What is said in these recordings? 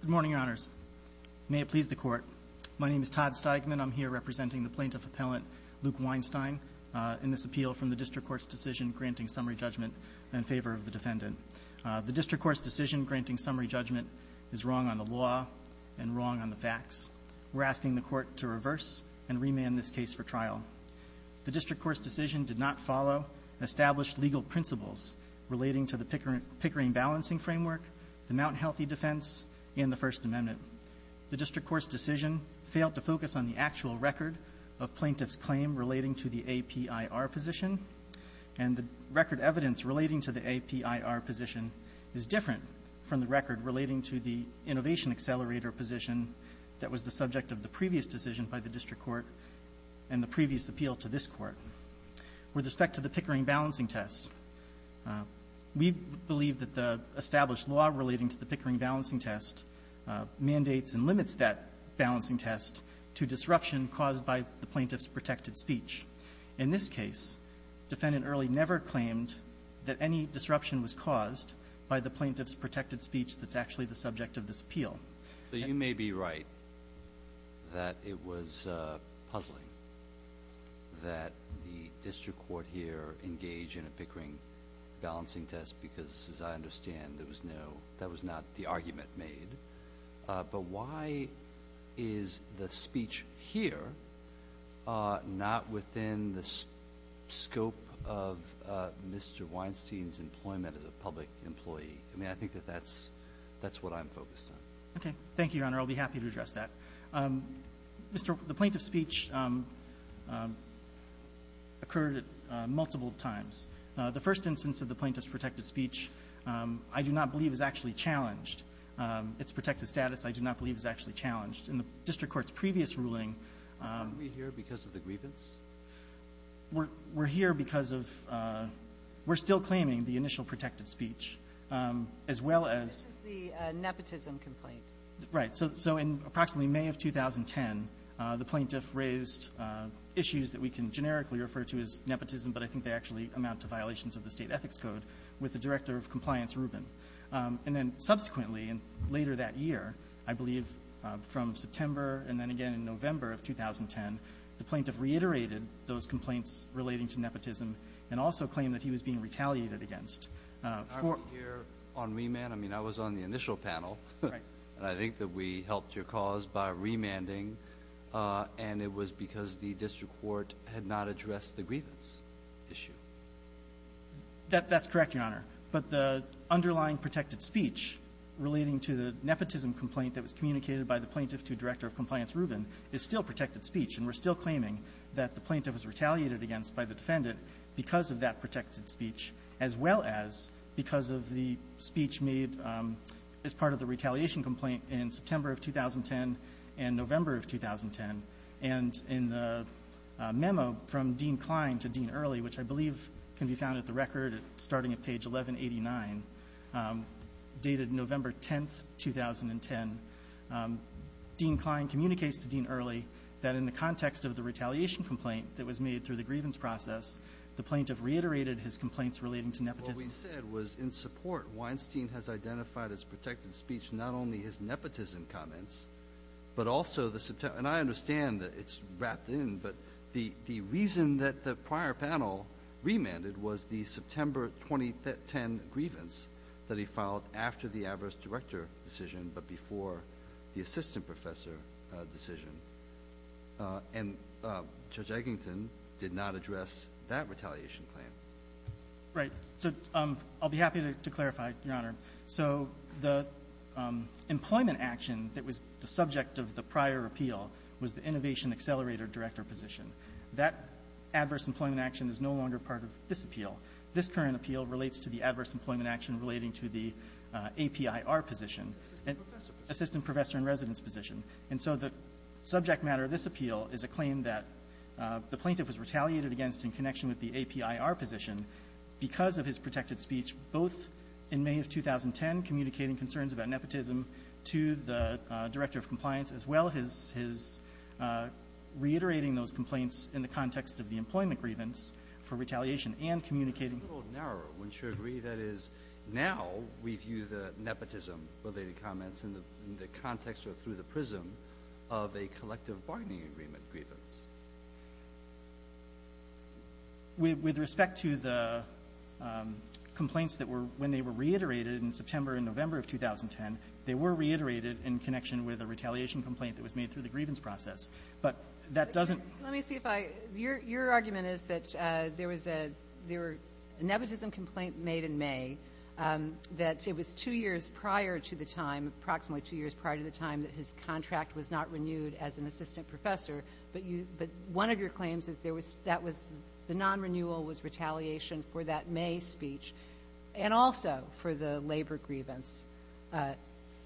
Good morning, your honors. May it please the court. My name is Todd Steigman. I'm here representing the plaintiff appellant, Luke Weinstein, in this appeal from the district court's decision granting summary judgment in favor of the defendant. The district court's decision granting summary judgment is wrong on the law and wrong on the facts. We're asking the court to reverse and remand this case for trial. The district court's decision did not follow established legal principles relating to the Pickering Balancing Framework the Mt. Healthy defense, and the First Amendment. The district court's decision failed to focus on the actual record of plaintiff's claim relating to the APIR position, and the record evidence relating to the APIR position is different from the record relating to the Innovation Accelerator position that was the subject of the previous decision by the district court and the previous appeal to this court. With respect to the Pickering Balancing Test, we believe that the established law relating to the Pickering Balancing Test mandates and limits that balancing test to disruption caused by the plaintiff's protected speech. In this case, Defendant Earley never claimed that any disruption was caused by the plaintiff's protected speech that's actually the subject of this appeal. So you may be right that it was puzzling that the district court here engaged in a Pickering Balancing Test because, as I understand, that was not the argument made. But why is the speech here not within the scope of Mr. Weinstein's employment as a public employee? I mean, I think that's what I'm focused on. Okay. Thank you, Your Honor. I'll be happy to address that. Mr. The plaintiff's speech occurred at multiple times. The first instance of the plaintiff's protected speech I do not believe is actually challenged. Its protected status I do not believe is actually challenged. In the district court's previous ruling we're here because of the grievance. We're here because of we're still claiming the initial protected speech as well as the nepotism complaint. Right. So in approximately May of 2010, the plaintiff raised issues that we can generically refer to as nepotism, but I think they actually amount to violations of the State Ethics Code with the Director of Compliance Rubin. And then subsequently, later that year, I believe from September and then again in November of 2010, the plaintiff reiterated those complaints relating to nepotism and also claimed that he was being retaliated against. Aren't we here on remand? I mean, I was on the initial panel. Right. And I think that we helped your cause by remanding, and it was because the district court had not addressed the grievance issue. That's correct, Your Honor. But the underlying protected speech relating to the nepotism complaint that was communicated by the plaintiff to Director of Compliance Rubin is still protected speech, and we're still claiming that the plaintiff was retaliated against by the defendant because of that protected speech as well as because of the speech made as part of the retaliation complaint in September of 2010 and November of 2010. And in the memo from Dean Klein to Dean Early, which I believe can be found at the record starting at page 1189, dated November 10, 2010, Dean Klein communicates to Dean Early that in the context of the retaliation complaint that was made through the grievance process, the plaintiff reiterated his complaints relating to nepotism. What we said was in support, Weinstein has identified as protected speech not only his nepotism comments, but also the September — and I understand that it's wrapped in, but the reason that the prior panel remanded was the September 2010 grievance that he filed after the adverse director decision, but before the assistant professor position, to address that retaliation claim. Right. So I'll be happy to clarify, Your Honor. So the employment action that was the subject of the prior appeal was the innovation accelerator director position. That adverse employment action is no longer part of this appeal. This current appeal relates to the adverse employment action relating to the APIR position, assistant professor in residence position. And so the subject matter of this appeal is a claim that the plaintiff was retaliated against in connection with the APIR position because of his protected speech, both in May of 2010, communicating concerns about nepotism to the director of compliance, as well as his — his reiterating those complaints in the context of the employment grievance for retaliation, and communicating — The world narrower, wouldn't you agree? That is, now we view the nepotism-related comments in the — in the context or through the prism of a collective bargaining agreement grievance. With — with respect to the complaints that were — when they were reiterated in September and November of 2010, they were reiterated in connection with a retaliation complaint that was made through the grievance process. But that doesn't — Let me see if I — your — your argument is that there was a — there were — a nepotism complaint made in May, that it was two years prior to the time, approximately two years prior to the time that his contract was not renewed as an assistant professor, but you — but one of your claims is there was — that was — the non-renewal was retaliation for that May speech, and also for the labor grievance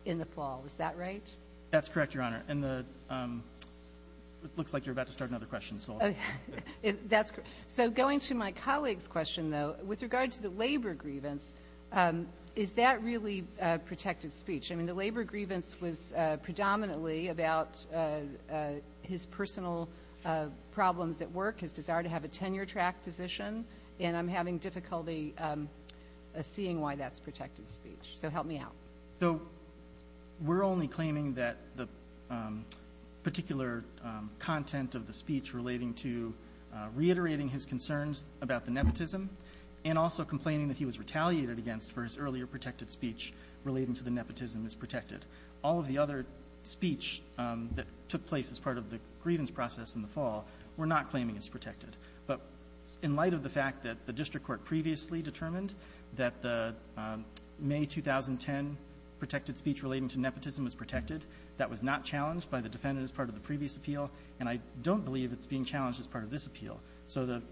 in the fall. Is that right? That's correct, Your Honor. And the — it looks like you're about to start another question, so I'll — That's correct. So going to my colleague's question, though, with regard to the labor grievance, is that really a protected speech? I mean, the labor grievance was predominantly about his personal problems at work, his desire to have a tenure-track position, and I'm having difficulty seeing why that's protected speech. So help me out. So we're only claiming that the particular content of the speech relating to — reiterating his concerns about the nepotism, and also complaining that he was retaliated against for his earlier protected speech relating to the nepotism is protected. All of the other speech that took place as part of the grievance process in the fall we're not claiming is protected. But in light of the fact that the district court previously determined that the May 2010 protected speech relating to nepotism was protected, that was not challenged by the defendant as part of the previous appeal, and I don't believe it's being challenged as part of this appeal. So the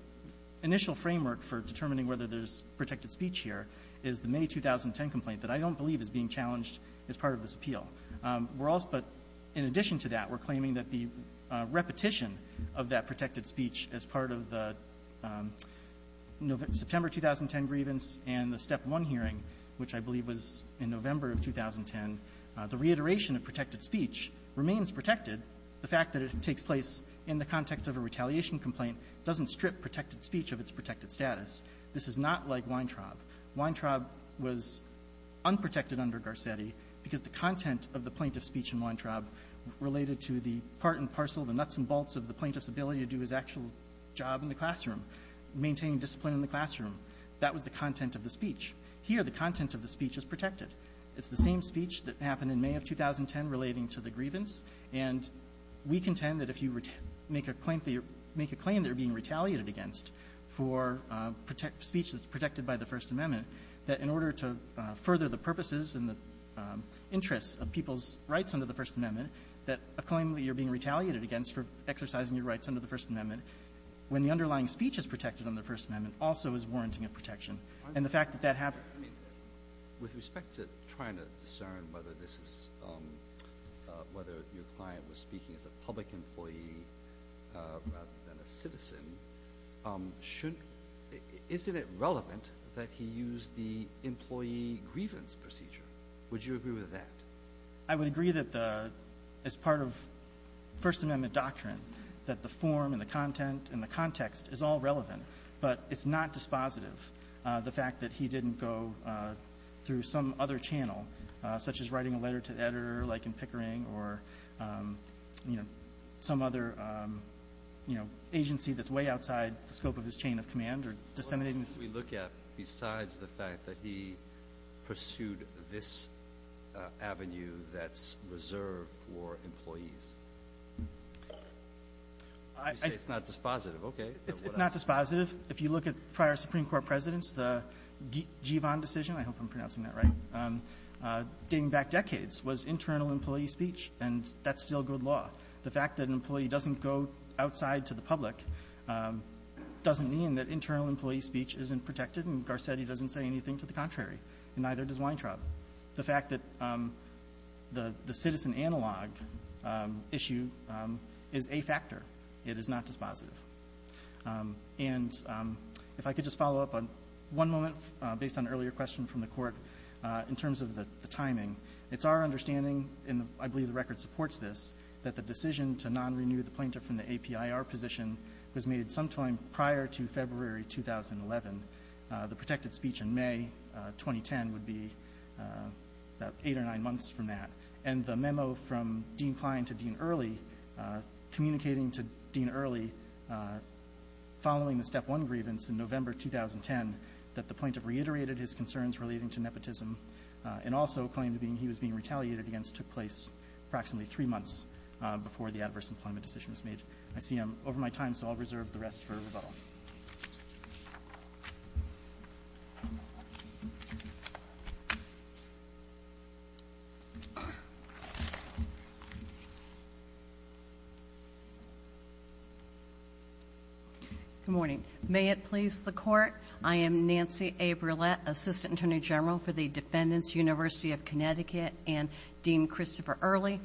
initial framework for determining whether there's protected speech here is the May 2010 complaint that I don't believe is being challenged as part of this appeal. We're also — but in addition to that, we're claiming that the repetition of that protected speech as part of the September 2010 grievance and the Step 1 hearing, which I believe was in November of 2010, the reiteration of protected speech remains protected. The fact that it takes place in the context of a retaliation complaint doesn't strip protected speech of its protected status. This is not like Weintraub. Weintraub was unprotected under Garcetti because the content of the plaintiff's speech in Weintraub related to the part and parcel, the nuts and bolts of the plaintiff's ability to do his actual job in the classroom, maintain discipline in the classroom. That was the content of the speech. Here, the content of the speech is protected. It's the same speech that happened in May of 2010 relating to the grievance. And we contend that if you make a claim that you're — make a claim that you're being retaliated against for speech that's protected by the First Amendment, that in order to further the purposes and the interests of people's rights under the First Amendment, that a claim that you're being retaliated against for exercising your rights under the First Amendment, when the underlying speech is protected under the First Amendment, also is warranting a protection. And the fact that that happened. I mean, with respect to trying to discern whether this is — whether your client was speaking as a public employee rather than a citizen, should — isn't it relevant that he use the employee grievance procedure? Would you agree with that? I would agree that the — as part of First Amendment doctrine, that the form and the content and the context is all relevant, but it's not dispositive. The fact that he didn't go through some other channel, such as writing a letter to the editor, like in Pickering, or, you know, some other, you know, agency that's way outside the scope of his chain of command or disseminating this — What can we look at besides the fact that he pursued this avenue that's reserved for employees? I — You say it's not dispositive. Okay. It's not dispositive. If you look at prior Supreme Court presidents, the Givon decision — I hope I'm pronouncing that right — dating back decades was internal employee speech, and that's still good law. The fact that an employee doesn't go outside to the public doesn't mean that internal employee speech isn't protected, and Garcetti doesn't say anything to the contrary, and neither does Weintraub. The fact that the citizen analog issue is a factor. It is not dispositive. And if I could just follow up on one moment based on an earlier question from the Court in terms of the timing. It's our understanding, and I believe the record supports this, that the decision to non-renew the plaintiff from the APIR position was made sometime prior to February 2011. The protected speech in May 2010 would be about eight or nine months from that, and the memo from Dean Kline to Dean Early, communicating to Dean Early following the Step 1 grievance in November 2010, that the plaintiff reiterated his concerns relating to nepotism and also claimed he was being retaliated against took place approximately three months before the adverse employment decision was made. I see I'm over my time, so I'll reserve the rest for rebuttal. Good morning. May it please the Court, I am Nancy A. Brouillette, Assistant Attorney General for the Defendants, University of Connecticut, and Dean Christopher Early.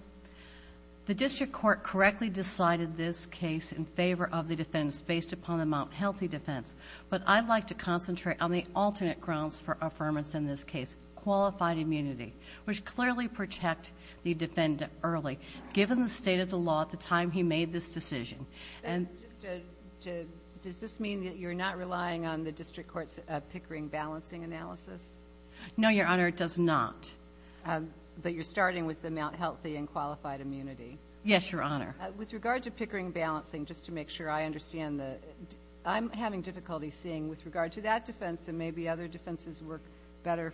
The district court correctly decided this case in favor of the defendants based upon the Mt. Healthy defense, but I'd like to concentrate on the alternate grounds for affirmance in this case, qualified immunity, which clearly protect the defendant early, given the state of the law at the time he made this decision. And just to, does this mean that you're not relying on the district court's Pickering balancing analysis? No, Your Honor, it does not. But you're starting with the Mt. Healthy and qualified immunity? Yes, Your Honor. With regard to Pickering balancing, just to make sure I understand, I'm having difficulty seeing, with regard to that defense, and maybe other defenses work better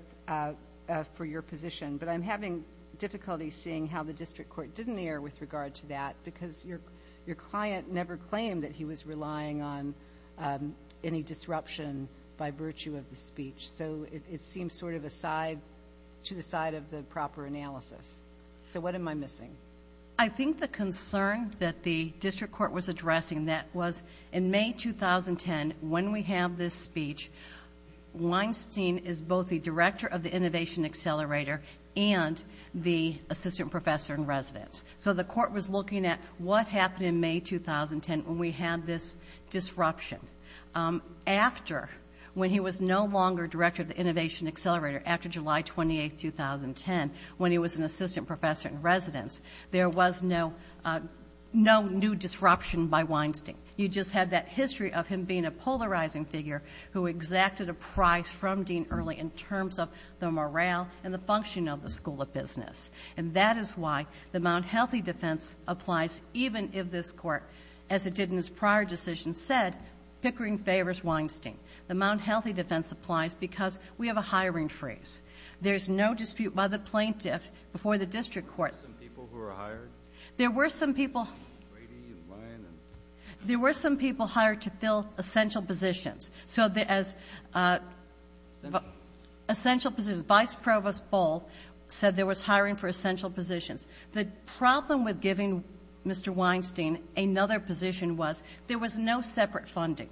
for your position, but I'm having difficulty seeing how the district court didn't err with regard to that because your client never claimed that he was relying on any disruption by virtue of the speech. So it seems sort of to the side of the proper analysis. So what am I missing? I think the concern that the district court was addressing, that was in May 2010, when we have this speech, Weinstein is both the director of the Innovation Accelerator and the assistant professor in residence. So the court was looking at what happened in May 2010 when we had this disruption. After when he was no longer director of the Innovation Accelerator, after July 28th, 2010, when he was an assistant professor in residence, there was no new disruption by Weinstein. You just had that history of him being a polarizing figure who exacted a price from Dean Early in terms of the morale and the function of the School of Business. And that is why the Mt. Healthy defense applies, even if this court, as it did in his prior decision, said Pickering favors Weinstein. The Mt. Healthy defense applies because we have a hiring freeze. There's no dispute by the plaintiff before the district court. There were some people who were hired? There were some people hired to fill essential positions. So there was essential positions. Vice Provost Bull said there was hiring for essential positions. The problem with giving Mr. Weinstein another position was there was no separate funding.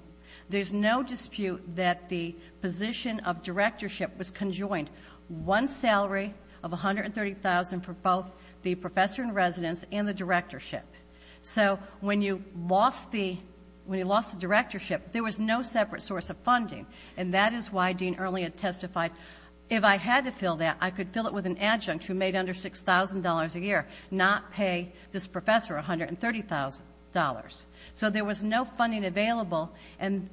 There's no dispute that the position of directorship was conjoined. One salary of $130,000 for both the professor in residence and the directorship. So when you lost the directorship, there was no separate source of funding. And that is why Dean Early had testified, if I had to fill that, I could fill it with an adjunct who made under $6,000 a year, not pay this professor $130,000. So there was no funding available. And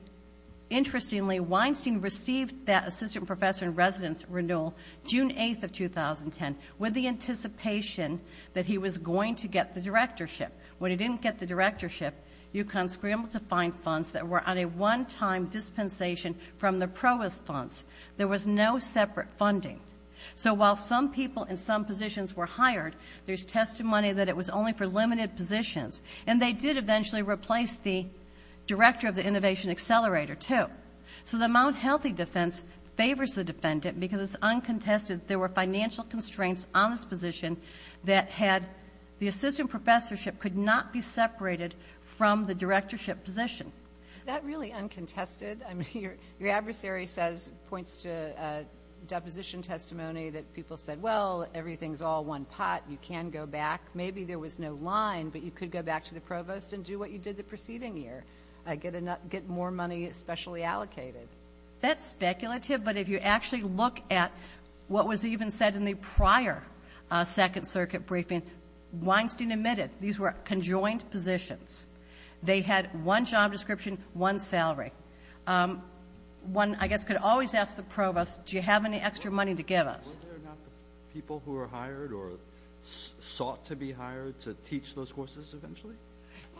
interestingly, Weinstein received that assistant professor in residence renewal June 8th of 2010 with the anticipation that he was going to get the directorship. When he didn't get the directorship, UConn scrambled to find funds that were on a one-time dispensation from the provost funds. There was no separate funding. So while some people in some positions were hired, there's testimony that it was only for limited positions. And they did eventually replace the director of the innovation accelerator, too. So the Mount Healthy defense favors the defendant because it's uncontested there were financial constraints on this position that had the assistant professorship could not be separated from the directorship position. Is that really uncontested? I mean, your adversary says, points to deposition testimony that people said, well, everything's all one pot. You can go back. Maybe there was no line, but you could go back to the provost and do what you did the preceding year, get more money specially allocated. That's speculative. But if you actually look at what was even said in the prior Second Circuit briefing, Weinstein admitted these were conjoined positions. They had one job description, one salary. One, I guess, could always ask the provost, do you have any extra money to give us? Were there not people who were hired or sought to be hired to teach those courses eventually?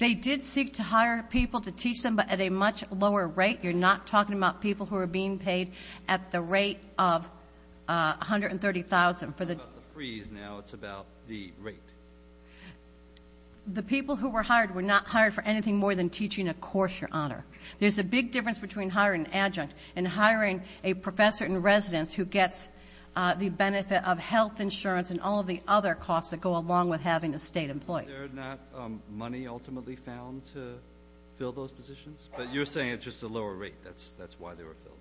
They did seek to hire people to teach them, but at a much lower rate. You're not talking about people who are being paid at the rate of $130,000. It's not about the freeze now. It's about the rate. The people who were hired were not hired for anything more than teaching a course, Your Honor. There's a big difference between hiring an adjunct and hiring a professor in order to have the benefit of health insurance and all of the other costs that go along with having a State employee. Were there not money ultimately found to fill those positions? But you're saying it's just a lower rate. That's why they were filled.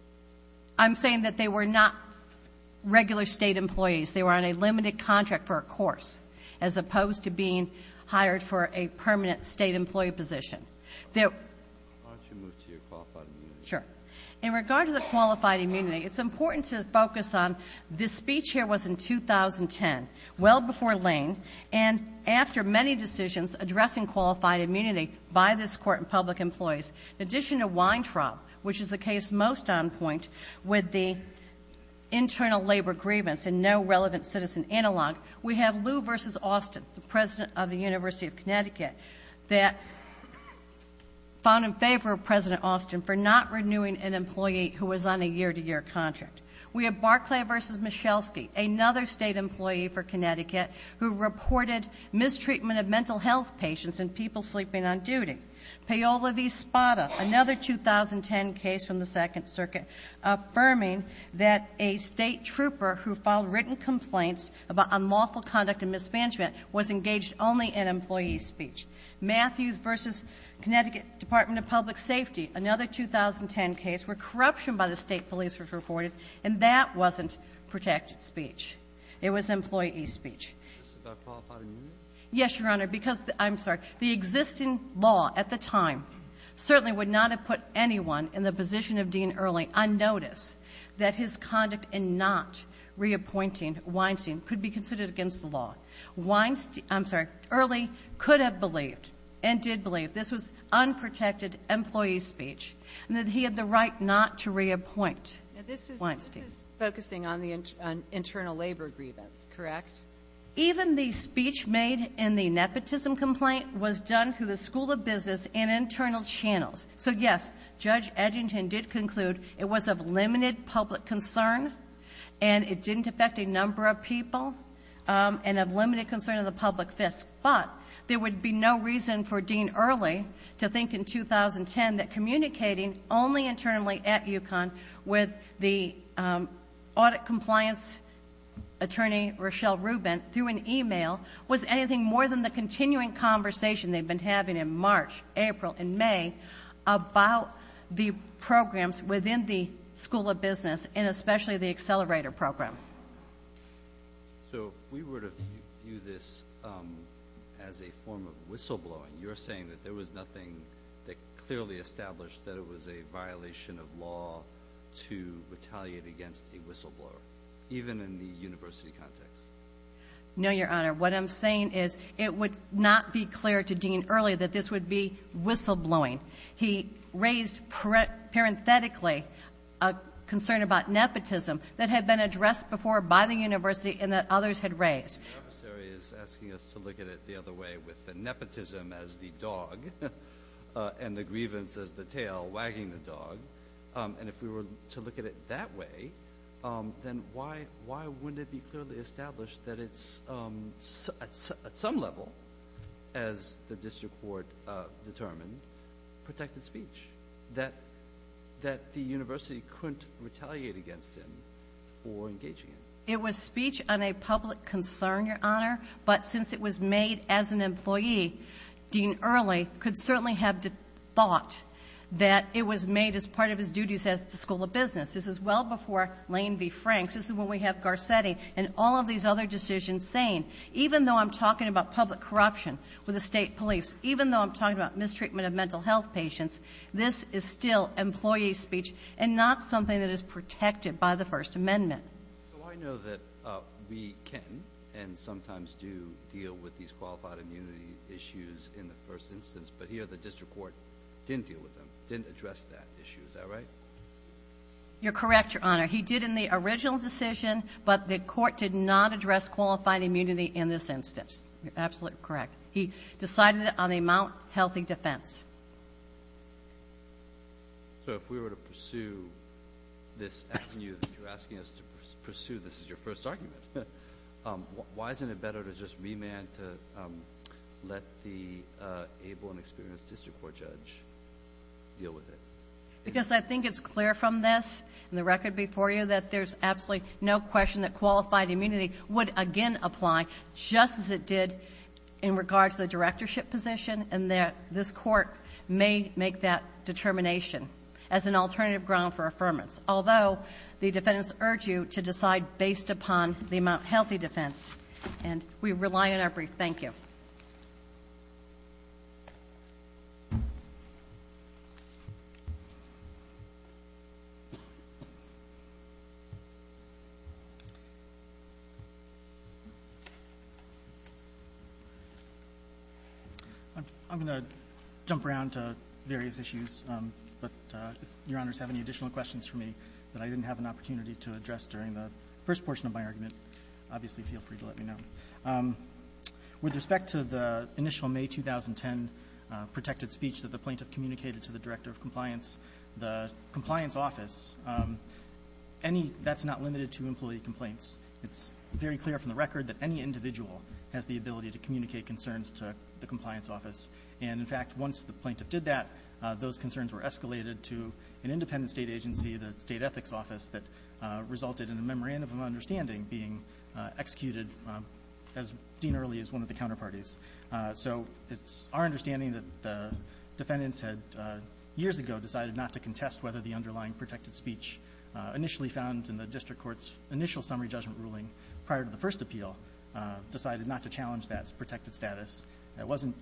I'm saying that they were not regular State employees. They were on a limited contract for a course, as opposed to being hired for a permanent State employee position. Why don't you move to your qualified immunity? Sure. In regard to the qualified immunity, it's important to focus on this speech here was in 2010, well before Lane, and after many decisions addressing qualified immunity by this Court and public employees. In addition to Weintraub, which is the case most on point with the internal labor grievance and no relevant citizen analog, we have Lew v. Austin, the president of the University of Connecticut, that found in favor of President Austin for not renewing an employee who was on a year-to-year contract. We have Barclay v. Michelsky, another State employee for Connecticut who reported mistreatment of mental health patients and people sleeping on duty. Paola v. Spada, another 2010 case from the Second Circuit, affirming that a State trooper who filed written complaints about unlawful conduct and mismanagement was engaged only in employee speech. Matthews v. Connecticut Department of Public Safety, another 2010 case where corruption by the State police was reported, and that wasn't protected speech. It was employee speech. Yes, Your Honor, because the existing law at the time certainly would not have put anyone in the position of Dean Early unnoticed that his conduct in not reappointing Weinstein could be considered against the law. Weinstein – I'm sorry, Early could have believed and did believe this was unprotected employee speech and that he had the right not to reappoint Weinstein. Sotomayor, this is focusing on the internal labor grievance, correct? Even the speech made in the nepotism complaint was done through the school of business and internal channels. So, yes, Judge Edgerton did conclude it was of limited public concern and it didn't affect a number of people and of limited concern of the public fist, but there would be no reason for Dean Early to think in 2010 that communicating only internally at UConn with the audit compliance attorney, Rochelle Rubin, through an email was anything more than the continuing conversation they've been having in March, April, and May about the programs within the school of business and especially the accelerator program. So, if we were to view this as a form of whistleblowing, you're saying that there was nothing that clearly established that it was a violation of law to retaliate against a whistleblower, even in the university context? No, Your Honor. What I'm saying is it would not be clear to Dean Early that this would be whistleblowing. He raised parenthetically a concern about nepotism that had been addressed before by the university and that others had raised. The adversary is asking us to look at it the other way, with the nepotism as the dog and the grievance as the tail wagging the dog. And if we were to look at it that way, then why wouldn't it be clearly established that it's, at some level, as the district court determined, protected speech, that the university couldn't retaliate against him for engaging him? It was speech on a public concern, Your Honor, but since it was made as an employee, Dean Early could certainly have thought that it was made as part of his duties at the school of business. This is well before Lane v. Franks. This is when we have Garcetti and all of these other decisions saying, even though I'm talking about public corruption with the State police, even though I'm talking about mistreatment of mental health patients, this is still employee speech and not something that is protected by the First Amendment. So I know that we can and sometimes do deal with these qualified immunity issues in the first instance, but here the district court didn't deal with them, didn't address that issue. Is that right? You're correct, Your Honor. He did in the original decision, but the court did not address qualified immunity in this instance. You're absolutely correct. He decided it on the Mount Healthy defense. So if we were to pursue this avenue that you're asking us to pursue, this is your first argument, why isn't it better to just remand to let the able and experienced district court judge deal with it? Because I think it's clear from this and the record before you that there's absolutely no question that qualified immunity would again apply just as it did in regard to the directorship position, and that this court may make that determination as an alternative ground for affirmance, although the defendants urge you to decide based upon the Mount Healthy defense, and we rely on our brief. Thank you. I'm going to jump around to various issues, but if Your Honors have any additional questions for me that I didn't have an opportunity to address during the first portion of my argument, obviously feel free to let me know. With respect to the initial May 2010 protected speech that the plaintiff communicated to the Director of Compliance, the Compliance Office, any that's not limited to employee complaints. It's very clear from the record that any individual has the ability to communicate concerns to the Compliance Office. And in fact, once the plaintiff did that, those concerns were escalated to an independent State agency, the State Ethics Office, that resulted in a memorandum of understanding being executed as dean early as one of the counterparties. So it's our understanding that the defendants had years ago decided not to contest whether the underlying protected speech initially found in the district court's initial summary judgment ruling prior to the first appeal decided not to challenge that protected status. It wasn't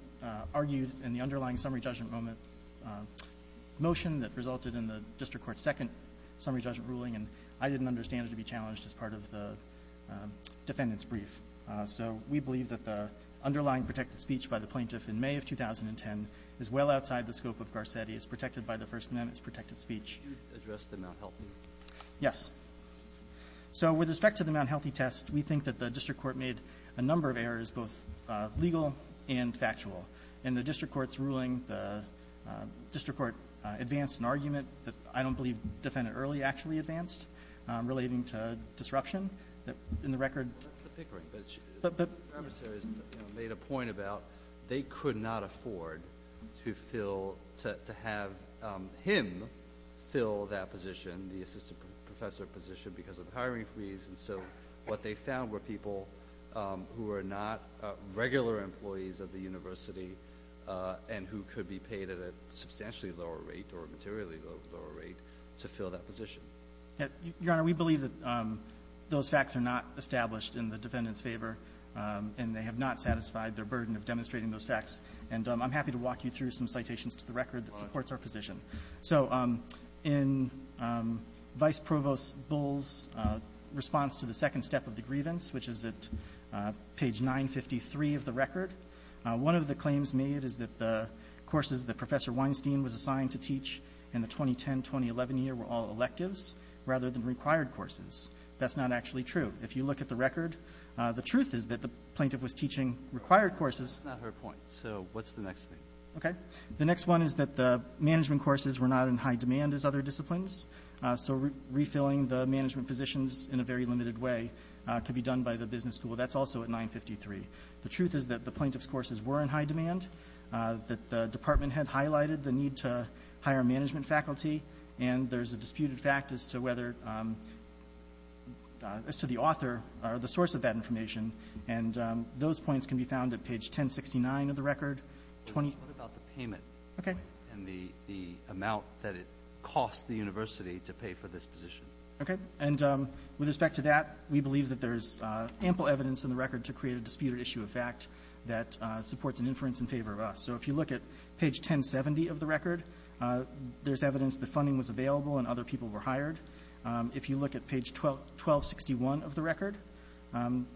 argued in the underlying summary judgment motion that resulted in the district court's second summary judgment ruling, and I didn't understand it to be challenged as part of the defendant's brief. So we believe that the underlying protected speech by the plaintiff in May of 2010 is well outside the scope of Garcetti. It's protected by the First Amendment. It's protected speech. Roberts. Did you address the Mount Healthy? Yes. So with respect to the Mount Healthy test, we think that the district court made a number of errors, both legal and factual. In the district court's ruling, the district court advanced an argument that I don't believe defendant Early actually advanced relating to disruption in the record. Well, that's the pickering. But she made a point about they could not afford to fill, to have him fill that position, the assistant professor position, because of hiring freeze. And so what they found were people who were not regular employees of the university and who could be paid at a substantially lower rate or a materially lower rate to fill that position. Your Honor, we believe that those facts are not established in the defendant's favor, and they have not satisfied their burden of demonstrating those facts. And I'm happy to walk you through some citations to the record that supports our position. So in Vice Provost Bull's response to the second step of the grievance, which is at page 953 of the record, one of the claims made is that the courses that Professor Weinstein was assigned to teach in the 2010-2011 year were all electives, rather than required courses. That's not actually true. If you look at the record, the truth is that the plaintiff was teaching required courses. That's not her point. So what's the next thing? Okay. The next one is that the management courses were not in high demand as other disciplines, so refilling the management positions in a very limited way could be a problem. And that's also at 953. The truth is that the plaintiff's courses were in high demand, that the department had highlighted the need to hire management faculty, and there's a disputed fact as to whether the author or the source of that information. And those points can be found at page 1069 of the record. What about the payment point and the amount that it cost the university to pay for this position? Okay. And with respect to that, we believe that there's ample evidence in the record to create a disputed issue of fact that supports an inference in favor of us. So if you look at page 1070 of the record, there's evidence that funding was available and other people were hired. If you look at page 1261 of the record,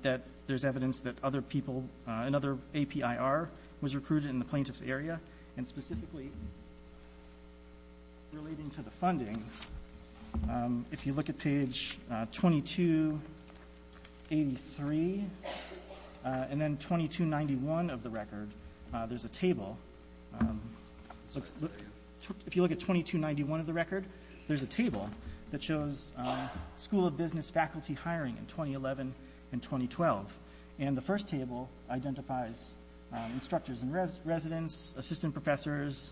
that there's evidence that other people and other APIR was recruited in the plaintiff's area. And specifically relating to the funding, if you look at page 2283 and then 2291 of the record, there's a table. If you look at 2291 of the record, there's a table that shows school of business faculty hiring in 2011 and 2012. And the first table identifies instructors in residence, assistant professors,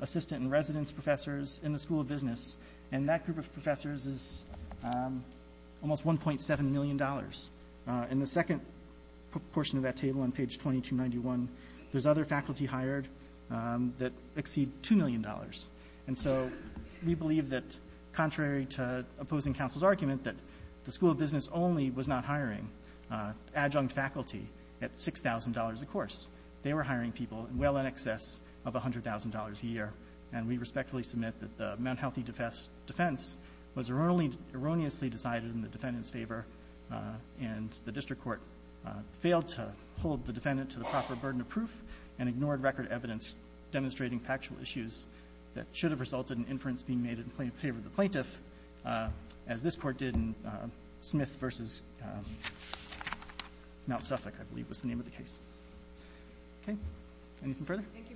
assistant and residence professors in the school of business. And that group of professors is almost $1.7 million. In the second portion of that table on page 2291, there's other faculty hired that exceed $2 million. And so we believe that contrary to opposing counsel's argument that the school of business only was not hiring adjunct faculty at $6,000 a course, they were hiring people well in excess of $100,000 a year. And we respectfully submit that the Mount Healthy defense was erroneously decided in the defendant's favor, and the district court failed to hold the defendant to the proper burden of proof and ignored record evidence demonstrating factual issues that should have resulted in inference being made in favor of the plaintiff, as this court did in Smith v. Mount Suffolk, I believe was the name of the case. Okay, anything further? Thank you.